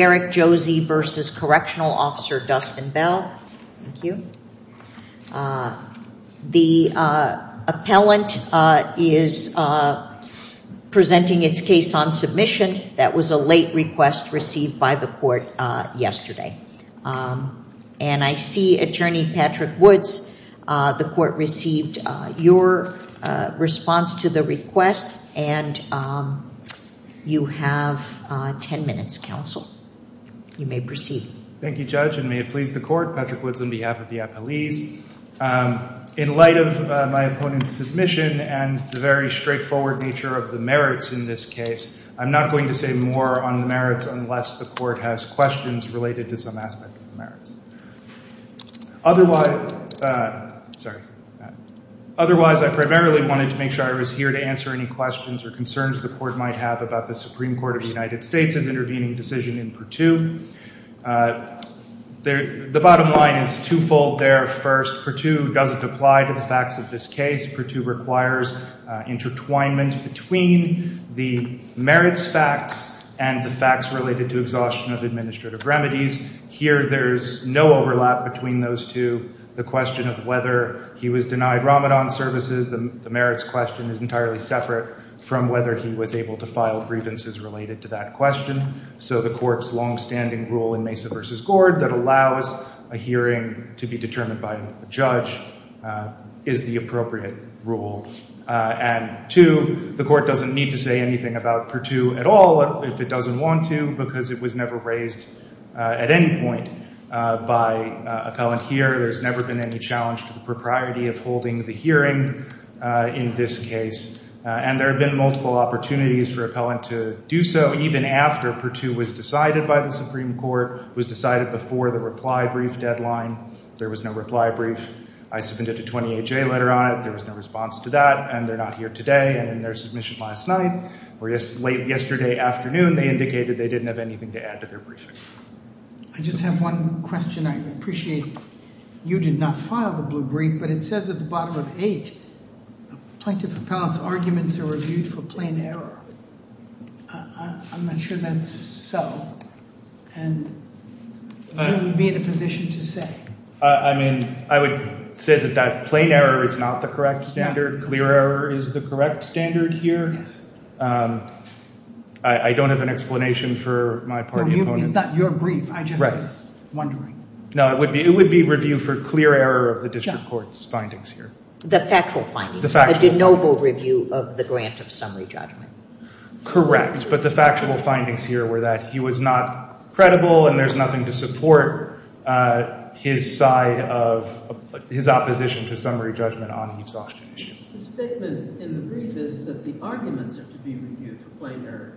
Derrick Josey v. Correctional Officer Dustin Bell. The appellant is presenting its case on submission. That was a late request received by the court yesterday. And I see Attorney Patrick Woods, the court received your response to the request and you have 10 minutes, counsel. You may proceed. Thank you, Judge. And may it please the court, Patrick Woods on behalf of the appellees. In light of my opponent's submission and the very straightforward nature of the merits in this case, I'm not going to say more on the merits unless the court has questions related to some aspect of the merits. Otherwise, I primarily wanted to make sure I was here to answer any questions or concerns. The court might have about the Supreme Court of the United States' intervening decision in Purtue. The bottom line is twofold there. First, Purtue doesn't apply to the facts of this case. Purtue requires intertwinement between the merits facts and the facts related to exhaustion of administrative remedies. Here there's no overlap between those two. The question of whether he was denied Ramadan services, the merits question is entirely separate from whether he was able to file grievances related to that question. So the court's longstanding rule in Mesa v. Gord that allows a hearing to be determined by a judge is the appropriate rule. And two, the court doesn't need to say anything about Purtue at all if it doesn't want to because it was never raised at any point by appellant here. There's never been any challenge to the propriety of holding the hearing in this case. And there have been multiple opportunities for appellant to do so even after Purtue was decided by the Supreme Court, was decided before the reply brief deadline. There was no reply brief. I submitted a 28-J letter on it, there was no response to that, and they're not here today. And in their submission last night, or late yesterday afternoon, they indicated they didn't have anything to add to their briefing. I just have one question I appreciate. You did not file the blue brief, but it says at the bottom of 8, plaintiff appellants arguments are reviewed for plain error. I'm not sure that's so, and what would you be in a position to say? I mean, I would say that that plain error is not the correct standard. Clear error is the correct standard here. I don't have an explanation for my part. It's not your brief, I'm just wondering. No, it would be review for clear error of the district court's findings here. The factual findings. The factual findings. The de nobis review of the grant of summary judgment. Correct, but the factual findings here were that he was not credible and there's nothing to support his side of, his opposition to summary judgment on these obstinations. The statement in the brief is that the arguments are to be reviewed for plain error.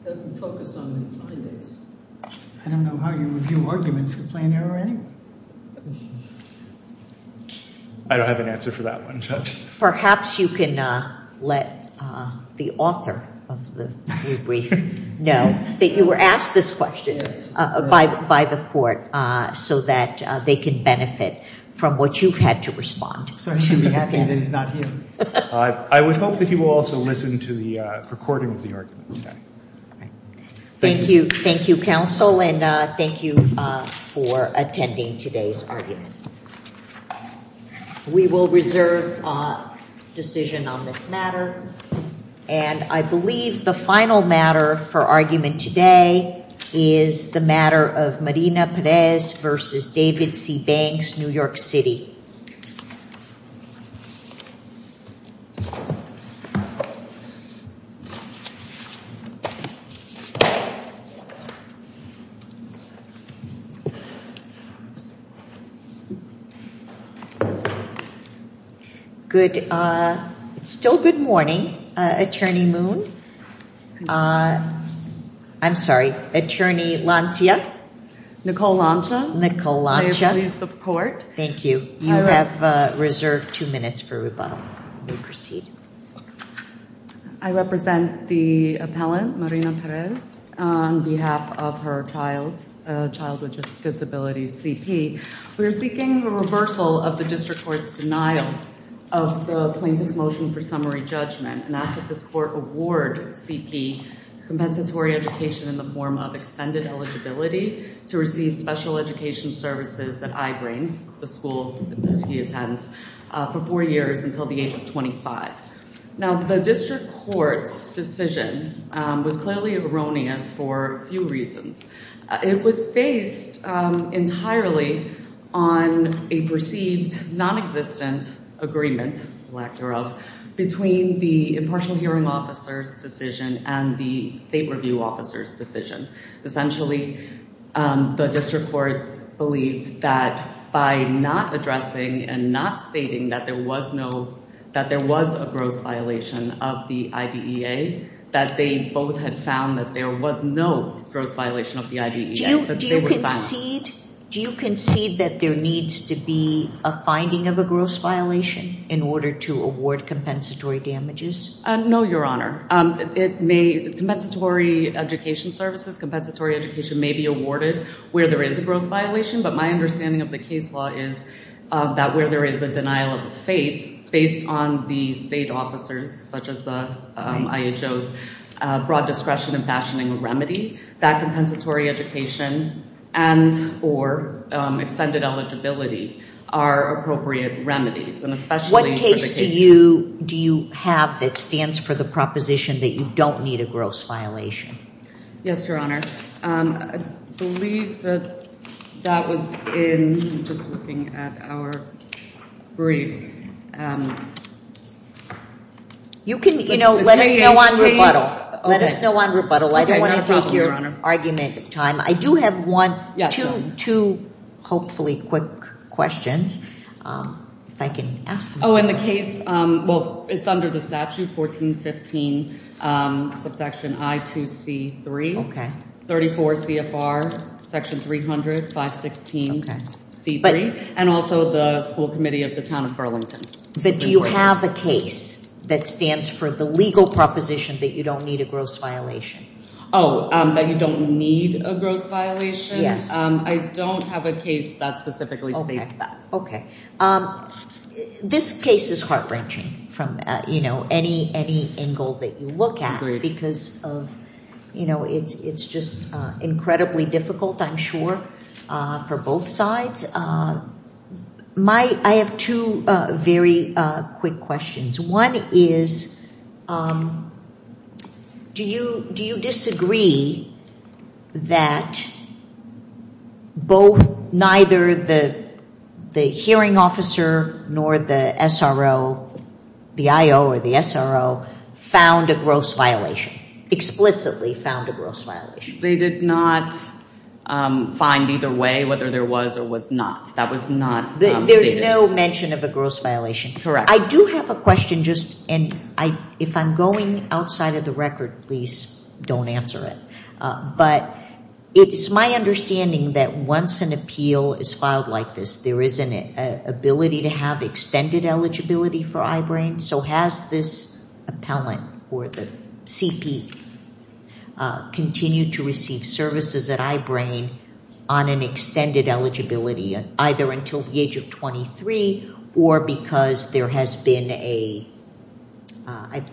It doesn't focus on the findings. I don't know how you review arguments for plain error anyway. I don't have an answer for that one, Judge. Perhaps you can let the author of the blue brief know that you were asked this question by the court so that they can benefit from what you've had to respond to. I would hope that you will also listen to the recording of the argument. Thank you. Thank you, counsel, and thank you for attending today's argument. We will reserve decision on this matter. And I believe the final matter for argument today is the matter of Marina Perez v. David C. Banks, New York City. Good, it's still good morning, Attorney Moon. I'm sorry, Attorney Lancia. Nicole Lancia. Nicole Lancia. May it please the court. Thank you. You have reserved two minutes for rebuttal. You may proceed. I represent the appellant, Marina Perez, on behalf of her child with disabilities, C.P. We are seeking a reversal of the district court's denial of the plaintiff's motion for summary judgment and ask that this court award C.P. compensatory education in the form of extended eligibility to receive special education services that I bring, the school that he attends, for four years until the age of 25. Now, the district court's decision was clearly erroneous for a few reasons. It was based entirely on a perceived nonexistent agreement, lack thereof, between the impartial hearing officer's decision and the state review officer's decision. Essentially, the district court believes that by not addressing and not stating that there was no... that there was a gross violation of the IDEA, that they both had found that there was no gross violation of the IDEA. Do you concede that there needs to be a finding of a gross violation in order to award compensatory damages? No, Your Honor. Compensatory education services, compensatory education may be awarded where there is a gross violation, but my understanding of the case law is that where there is a denial of the fate, based on the state officers, such as the IHO's broad discretion in fashioning a remedy, that compensatory education and or extended eligibility are appropriate remedies, and especially... What case do you have that stands for the proposition that you don't need a gross violation? Yes, Your Honor. I believe that that was in... I'm just looking at our brief. Let us know on rebuttal. Let us know on rebuttal. I don't want to take your argument time. I do have one... two hopefully quick questions, if I can ask them. Oh, in the case... well, it's under the statute, 1415 subsection I2C3, 34 CFR section 300, 516 C3, and also the school committee of the town of Burlington. But do you have a case that stands for the legal proposition that you don't need a gross violation? Oh, that you don't need a gross violation? Yes. I don't have a case that specifically states that. Okay. This case is heart-wrenching from any angle that you look at...... because it's just incredibly difficult, I'm sure, for both sides. My... I have two very quick questions. One is, do you disagree that both... neither the hearing officer nor the SRO... the IO or the SRO found a gross violation, explicitly found a gross violation? They did not find either way, whether there was or was not. That was not stated. There's no mention of a gross violation? Correct. I do have a question, just... and if I'm going outside of the record, please don't answer it. But it's my understanding that once an appeal is filed like this, there is an ability to have extended eligibility for I-BRAIN. So, has this appellant or the CP continued to receive services at I-BRAIN on an extended eligibility, either until the age of 23 or because there has been a...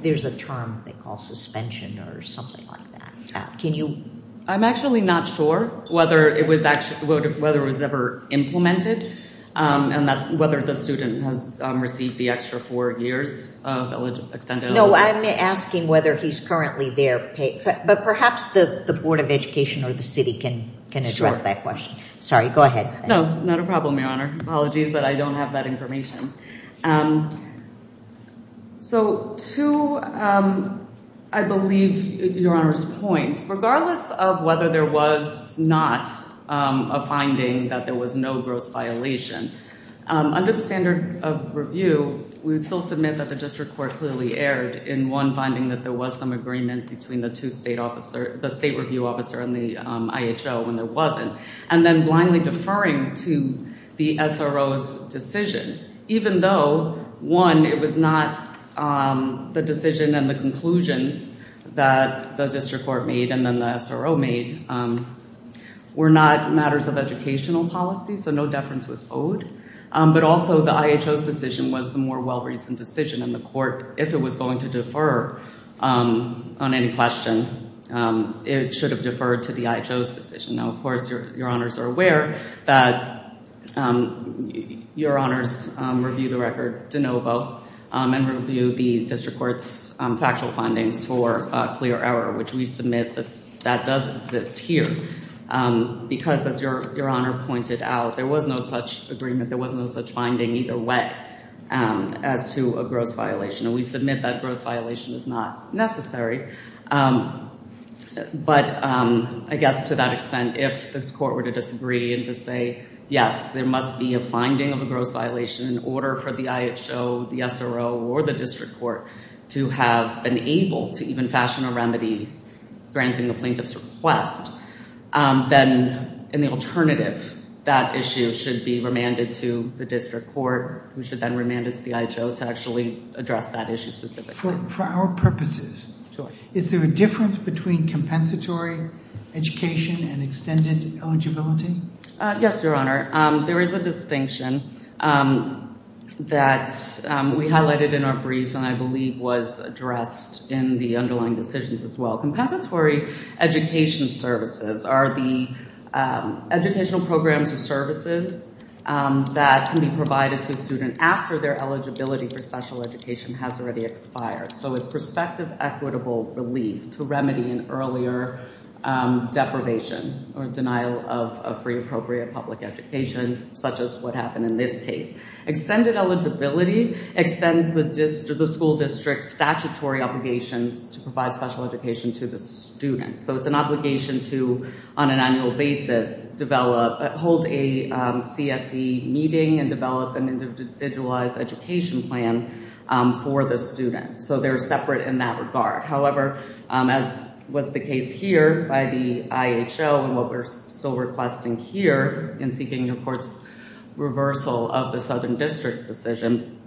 there's a term they call suspension or something like that. Can you... I'm actually not sure whether it was ever implemented... and whether the student has received the extra four years of extended... No, I'm asking whether he's currently there. But perhaps the Board of Education or the city can address that question. Sorry, go ahead. No, not a problem, Your Honor. Apologies, but I don't have that information. So, to, I believe, Your Honor's point, regardless of whether there was not a finding that there was no gross violation, under the standard of review, we would still submit that the district court clearly erred in one finding that there was some agreement between the two state officer... the state review officer and the IHO when there wasn't, and then blindly deferring to the SRO's decision. Even though, one, it was not the decision and the conclusions that the district court made and then the SRO made, were not matters of educational policy, so no deference was owed. But also, the IHO's decision was the more well-reasoned decision and the court, if it was going to defer on any question, it should have deferred to the IHO's decision. Now, of course, Your Honors are aware that Your Honors reviewed the record de novo and reviewed the district court's factual findings for clear error, which we submit that that does exist here. Because, as Your Honor pointed out, there was no such agreement, there was no such finding, either way, as to a gross violation. And we submit that gross violation is not necessary. But, I guess, to that extent, if this court were to disagree and to say, yes, there must be a finding of a gross violation in order for the IHO, the SRO, or the district court to have been able to even fashion a remedy granting the plaintiff's request, then, in the alternative, that issue should be remanded to the district court, who should then remand it to the IHO to actually address that issue specifically. For our purposes, is there a difference between compensatory education and extended eligibility? Yes, Your Honor. There is a distinction that we highlighted in our brief and I believe was addressed in the underlying decisions as well. Compensatory education services are the educational programs or services that can be provided to a student after their eligibility for special education has already expired. So, it's prospective equitable relief to remedy an earlier deprivation or denial of free, appropriate public education, such as what happened in this case. Extended eligibility extends the school district's statutory obligations to provide special education to the student. So, it's an obligation to, on an annual basis, hold a CSE meeting and develop an individualized education plan for the student. So, they're separate in that regard. However, as was the case here by the IHO and what we're still requesting here in seeking the court's reversal of the Southern District's decision,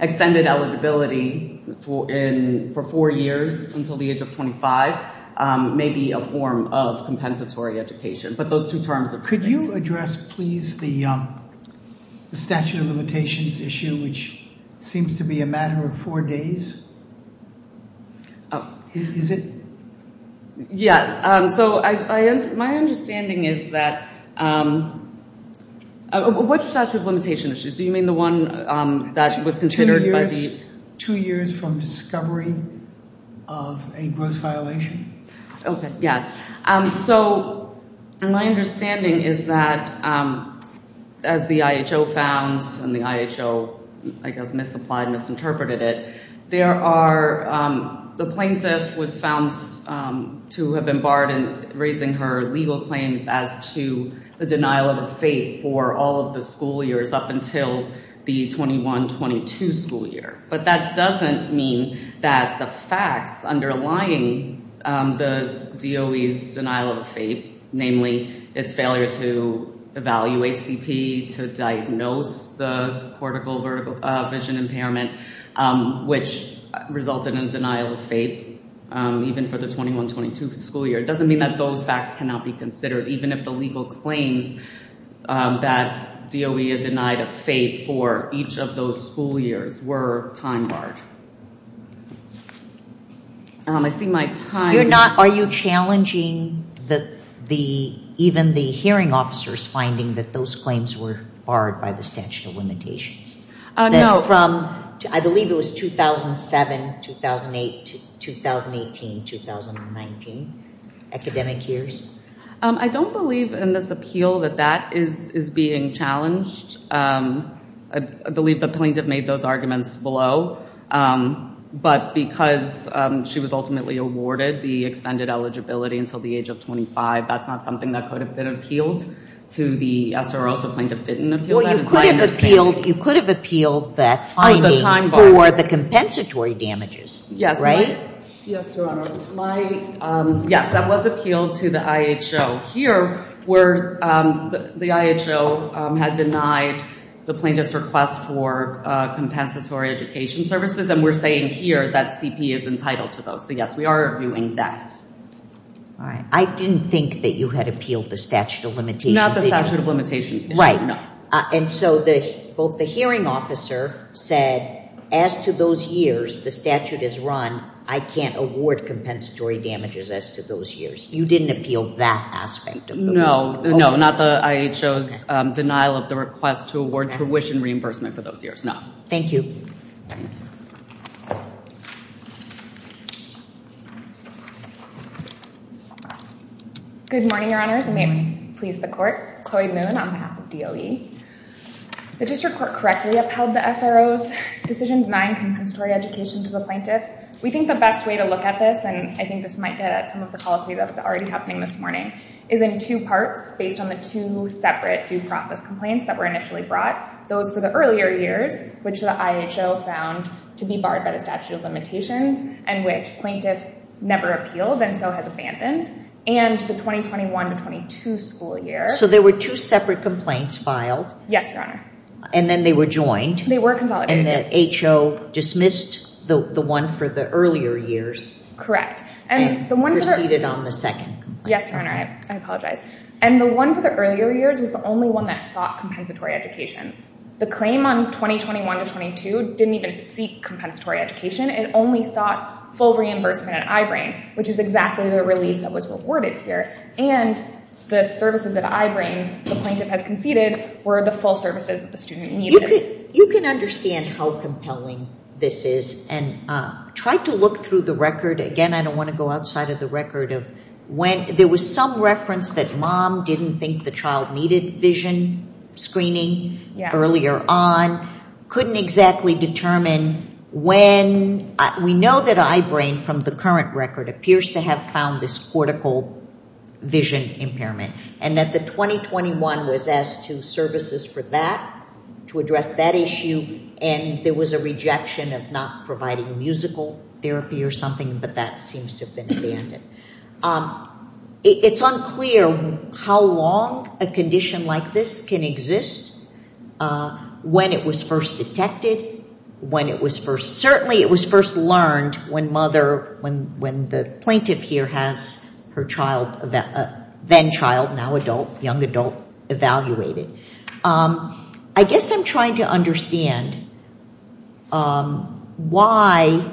extended eligibility for four years until the age of 25 may be a form of compensatory education. But those two terms are distinct. Could you address, please, the statute of limitations issue, which seems to be a matter of four days? Yes. So, my understanding is that... What's the statute of limitation issues? Do you mean the one that was considered by the... Two years from discovery of a gross violation. Okay. Yes. So, my understanding is that, as the IHO found and the IHO, I guess, misapplied, misinterpreted it, the plaintiff was found to have been barred in raising her legal claims as to the denial of a FAPE for all of the school years up until the 21-22 school year. But that doesn't mean that the facts underlying the DOE's denial of a FAPE, namely its failure to evaluate CP, to diagnose the cortical vision impairment, which resulted in denial of FAPE even for the 21-22 school year, doesn't mean that those facts cannot be considered even if the legal claims that DOE denied a FAPE for each of those school years were time-barred. I see my time... Are you challenging even the hearing officers finding that those claims were barred by the statute of limitations? No. I believe it was 2007, 2008, 2018, 2019, academic years. I don't believe in this appeal that that is being challenged. I believe the plaintiff made those arguments below. But because she was ultimately awarded the extended eligibility until the age of 25, that's not something that could have been appealed to the SRO, so plaintiff didn't appeal that. Well, you could have appealed that, I mean, for the compensatory damages, right? Yes, Your Honor. Yes, that was appealed to the IHO. Here, the IHO had denied the plaintiff's request for compensatory education services, and we're saying here that CP is entitled to those. So, yes, we are doing that. All right. I didn't think that you had appealed the statute of limitations. Not the statute of limitations. Right. No. And so both the hearing officer said, as to those years the statute is run, I can't award compensatory damages as to those years. You didn't appeal that aspect of the ruling. No. No, not the IHO's denial of the request to award tuition reimbursement for those years. No. Thank you. Thank you. Good morning, Your Honors. May it please the Court. Chloe Moon on behalf of DOE. The District Court correctly upheld the SRO's decision denying compensatory education to the plaintiff. We think the best way to look at this, and I think this might get at some of the colloquy that was already happening this morning, is in two parts based on the two separate due process complaints that were initially brought, those for the earlier years, which the IHO found to be barred by the statute of limitations and which plaintiff never appealed and so has abandoned, and the 2021-22 school year. So there were two separate complaints filed. Yes, Your Honor. And then they were joined. They were consolidated. And the IHO dismissed the one for the earlier years. Correct. And proceeded on the second complaint. Yes, Your Honor. I apologize. And the one for the earlier years was the only one that sought compensatory education. The claim on 2021-22 didn't even seek compensatory education. It only sought full reimbursement at I-BRAIN, which is exactly the relief that was rewarded here. And the services at I-BRAIN the plaintiff has conceded were the full services that the student needed. You can understand how compelling this is. And try to look through the record. Again, I don't want to go outside of the record of when. There was some reference that mom didn't think the child needed vision screening earlier on. Couldn't exactly determine when. We know that I-BRAIN from the current record appears to have found this cortical vision impairment. And that the 2021 was asked to services for that, to address that issue. And there was a rejection of not providing musical therapy or something. But that seems to have been abandoned. It's unclear how long a condition like this can exist. When it was first detected. When it was first, certainly it was first learned when mother, when the plaintiff here has her child, then child, now adult, young adult evaluated. I guess I'm trying to understand why,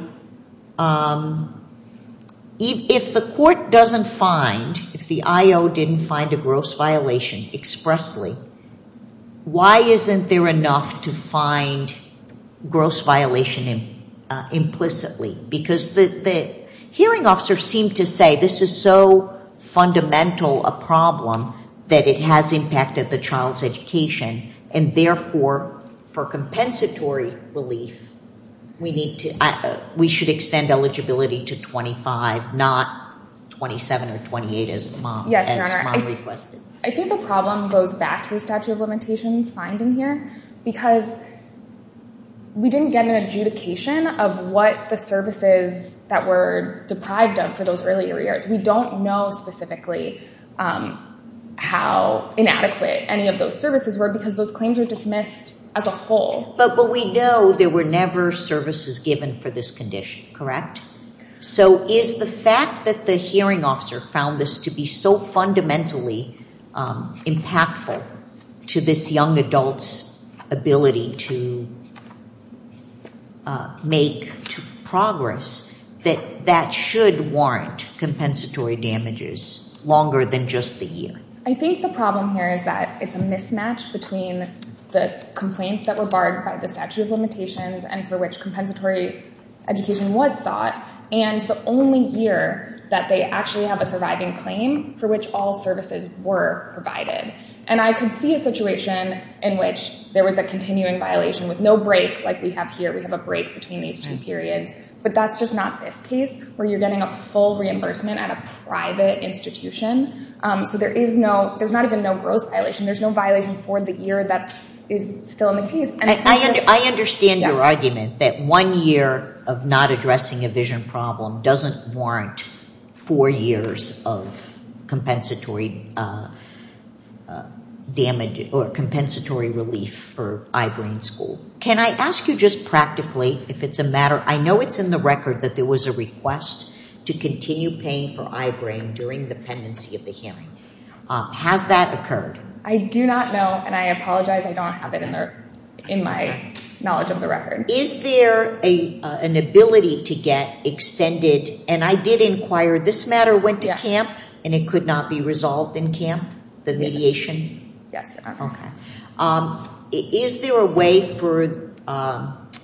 if the court doesn't find, if the I-O didn't find a gross violation expressly. Why isn't there enough to find gross violation implicitly? Because the hearing officer seemed to say this is so fundamental a problem that it has impacted the child's education. And therefore, for compensatory relief, we need to, we should extend eligibility to 25, not 27 or 28 as mom requested. I think the problem goes back to the statute of limitations finding here. Because we didn't get an adjudication of what the services that were deprived of for those earlier years. We don't know specifically how inadequate any of those services were because those claims were dismissed as a whole. But we know there were never services given for this condition, correct? So is the fact that the hearing officer found this to be so fundamentally impactful to this young adult's ability to make progress, that that should warrant compensatory damages longer than just the year? I think the problem here is that it's a mismatch between the complaints that were barred by the statute of limitations and for which compensatory education was sought and the only year that they actually have a surviving claim for which all services were provided. And I could see a situation in which there was a continuing violation with no break like we have here. We have a break between these two periods. But that's just not this case where you're getting a full reimbursement at a private institution. So there's not even no gross violation. There's no violation for the year that is still in the case. I understand your argument that one year of not addressing a vision problem doesn't warrant four years of compensatory relief for eye-brain school. Can I ask you just practically if it's a matter, I know it's in the record that there was a request to continue paying for eye-brain during the pendency of the hearing. Has that occurred? I do not know and I apologize. I don't have it in my knowledge of the record. Is there an ability to get extended, and I did inquire, this matter went to camp and it could not be resolved in camp, the mediation? Yes. Okay. Is there a way for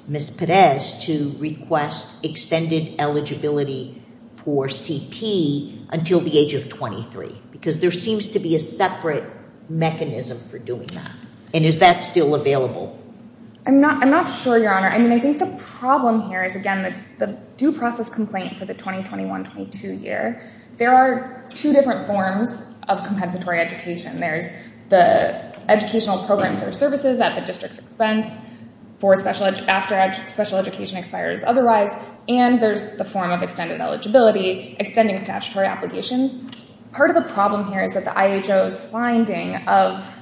Ms. Pérez to request extended eligibility for CP until the age of 23? Because there seems to be a separate mechanism for doing that. And is that still available? I'm not sure, Your Honor. I think the problem here is, again, the due process complaint for the 2021-22 year. There are two different forms of compensatory education. There's the educational program for services at the district's expense after special education expires otherwise. And there's the form of extended eligibility, extending statutory obligations. Part of the problem here is that the IHO's finding of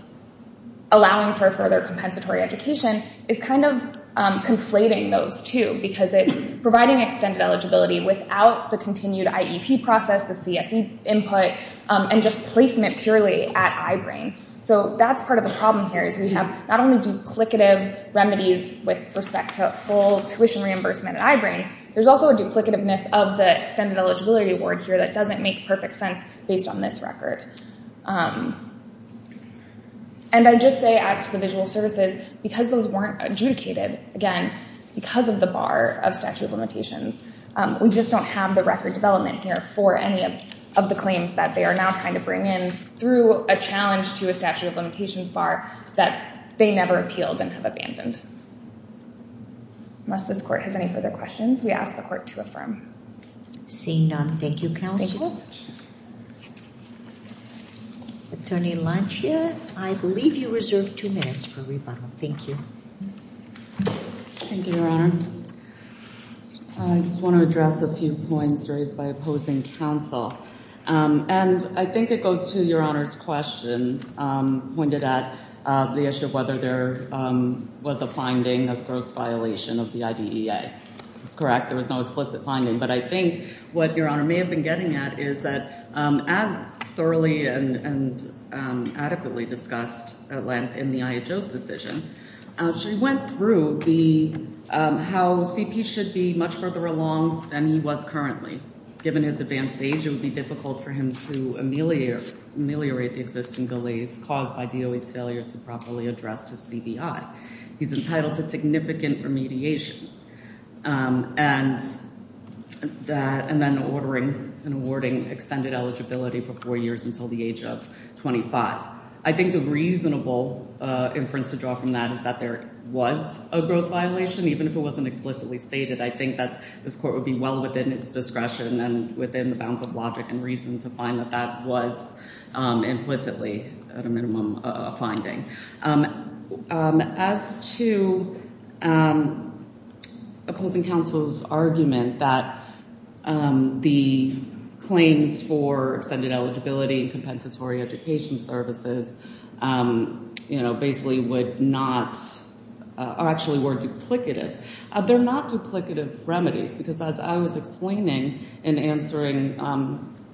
allowing for further compensatory education is kind of conflating those two. Because it's providing extended eligibility without the continued IEP process, the CSE input, and just placement purely at I-BRAIN. So that's part of the problem here is we have not only duplicative remedies with respect to full tuition reimbursement at I-BRAIN, there's also a duplicativeness of the extended eligibility award here that doesn't make perfect sense based on this record. And I just say, as to the visual services, because those weren't adjudicated, again, because of the bar of statute of limitations, we just don't have the record development here for any of the claims that they are now trying to bring in through a challenge to a statute of limitations bar that they never appealed and have abandoned. Unless this court has any further questions, we ask the court to affirm. Seeing none, thank you, Counsel. Thank you so much. Attorney Lancia, I believe you reserve two minutes for rebuttal. Thank you. Thank you, Your Honor. I just want to address a few points raised by opposing counsel. And I think it goes to Your Honor's question pointed at the issue of whether there was a finding of gross violation of the IDEA. That's correct. There was no explicit finding. But I think what Your Honor may have been getting at is that as thoroughly and adequately discussed at length in the IHO's decision, she went through how CP should be much further along than he was currently. Given his advanced age, it would be difficult for him to ameliorate the existing delays caused by DOE's failure to properly address his CBI. He's entitled to significant remediation and then ordering and awarding extended eligibility for four years until the age of 25. I think the reasonable inference to draw from that is that there was a gross violation, even if it wasn't explicitly stated. I think that this court would be well within its discretion and within the bounds of logic and reason to find that that was implicitly at a minimum a finding. As to opposing counsel's argument that the claims for extended eligibility and compensatory education services basically would not or actually were duplicative, they're not duplicative remedies because as I was explaining in answering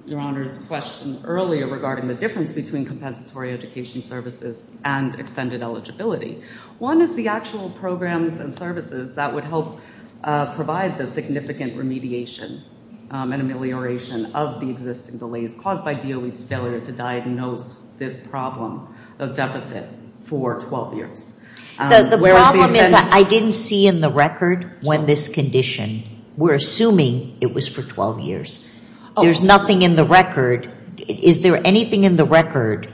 Your Honor's question earlier regarding the difference between compensatory education services and extended eligibility, one is the actual programs and services that would help provide the significant remediation and amelioration of the existing delays caused by DOE's failure to diagnose this problem of deficit for 12 years. The problem is I didn't see in the record when this condition, we're assuming it was for 12 years. There's nothing in the record. Is there anything in the record,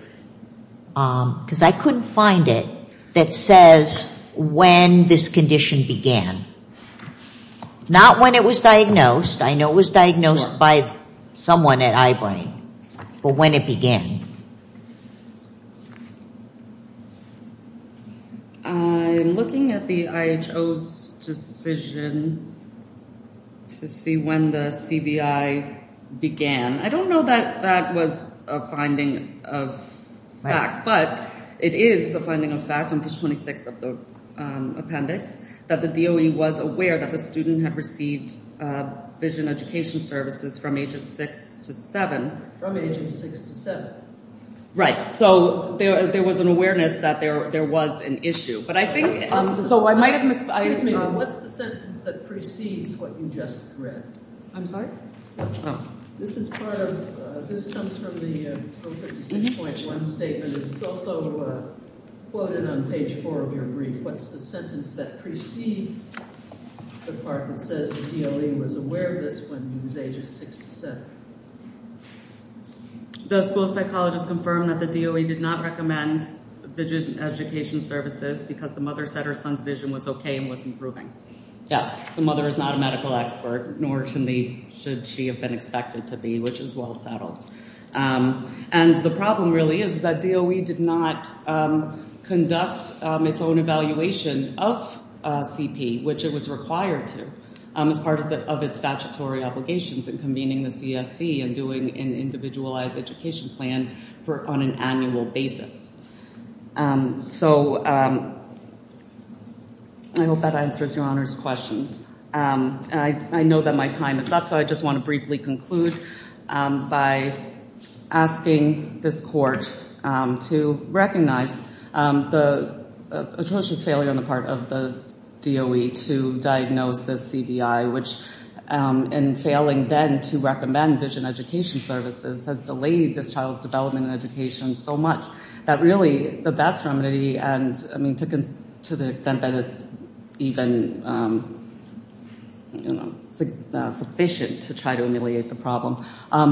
because I couldn't find it, that says when this condition began? Not when it was diagnosed. I know it was diagnosed by someone at Ibram, but when it began? I'm looking at the IHO's decision to see when the CBI began. I don't know that that was a finding of fact, but it is a finding of fact in page 26 of the appendix that the DOE was aware that the student had received vision education services from ages 6 to 7. From ages 6 to 7. Right. So there was an awareness that there was an issue, but I think— So I might have— Excuse me. What's the sentence that precedes what you just read? I'm sorry? This is part of—this comes from the 056.1 statement, and it's also quoted on page 4 of your brief. What's the sentence that precedes the part that says the DOE was aware of this when he was ages 6 to 7? The school psychologist confirmed that the DOE did not recommend vision education services because the mother said her son's vision was okay and was improving. Yes, the mother is not a medical expert, nor should she have been expected to be, which is well settled. And the problem really is that DOE did not conduct its own evaluation of CP, which it was required to, as part of its statutory obligations in convening the CSC and doing an individualized education plan on an annual basis. So I hope that answers Your Honor's questions. And I know that my time is up, so I just want to briefly conclude by asking this Court to recognize the atrocious failure on the part of the DOE to diagnose this CBI, which in failing then to recommend vision education services has delayed this child's development in education so much that really the best remedy, and I mean to the extent that it's even sufficient to try to ameliorate the problem,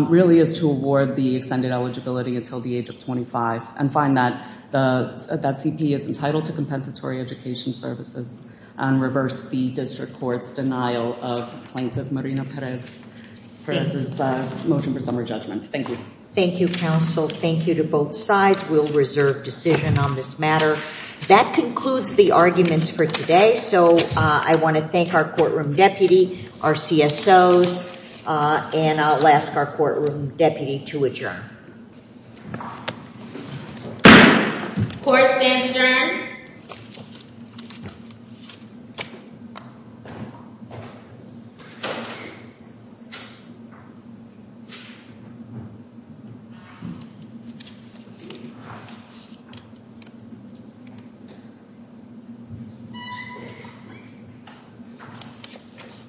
really is to award the extended eligibility until the age of 25 and find that CP is entitled to compensatory education services and reverse the district court's denial of plaintiff Marina Perez's motion for summary judgment. Thank you. Thank you, counsel. Thank you to both sides. We'll reserve decision on this matter. That concludes the arguments for today. So I want to thank our courtroom deputy, our CSOs, and I'll ask our courtroom deputy to adjourn. Court stands adjourned. Thank you.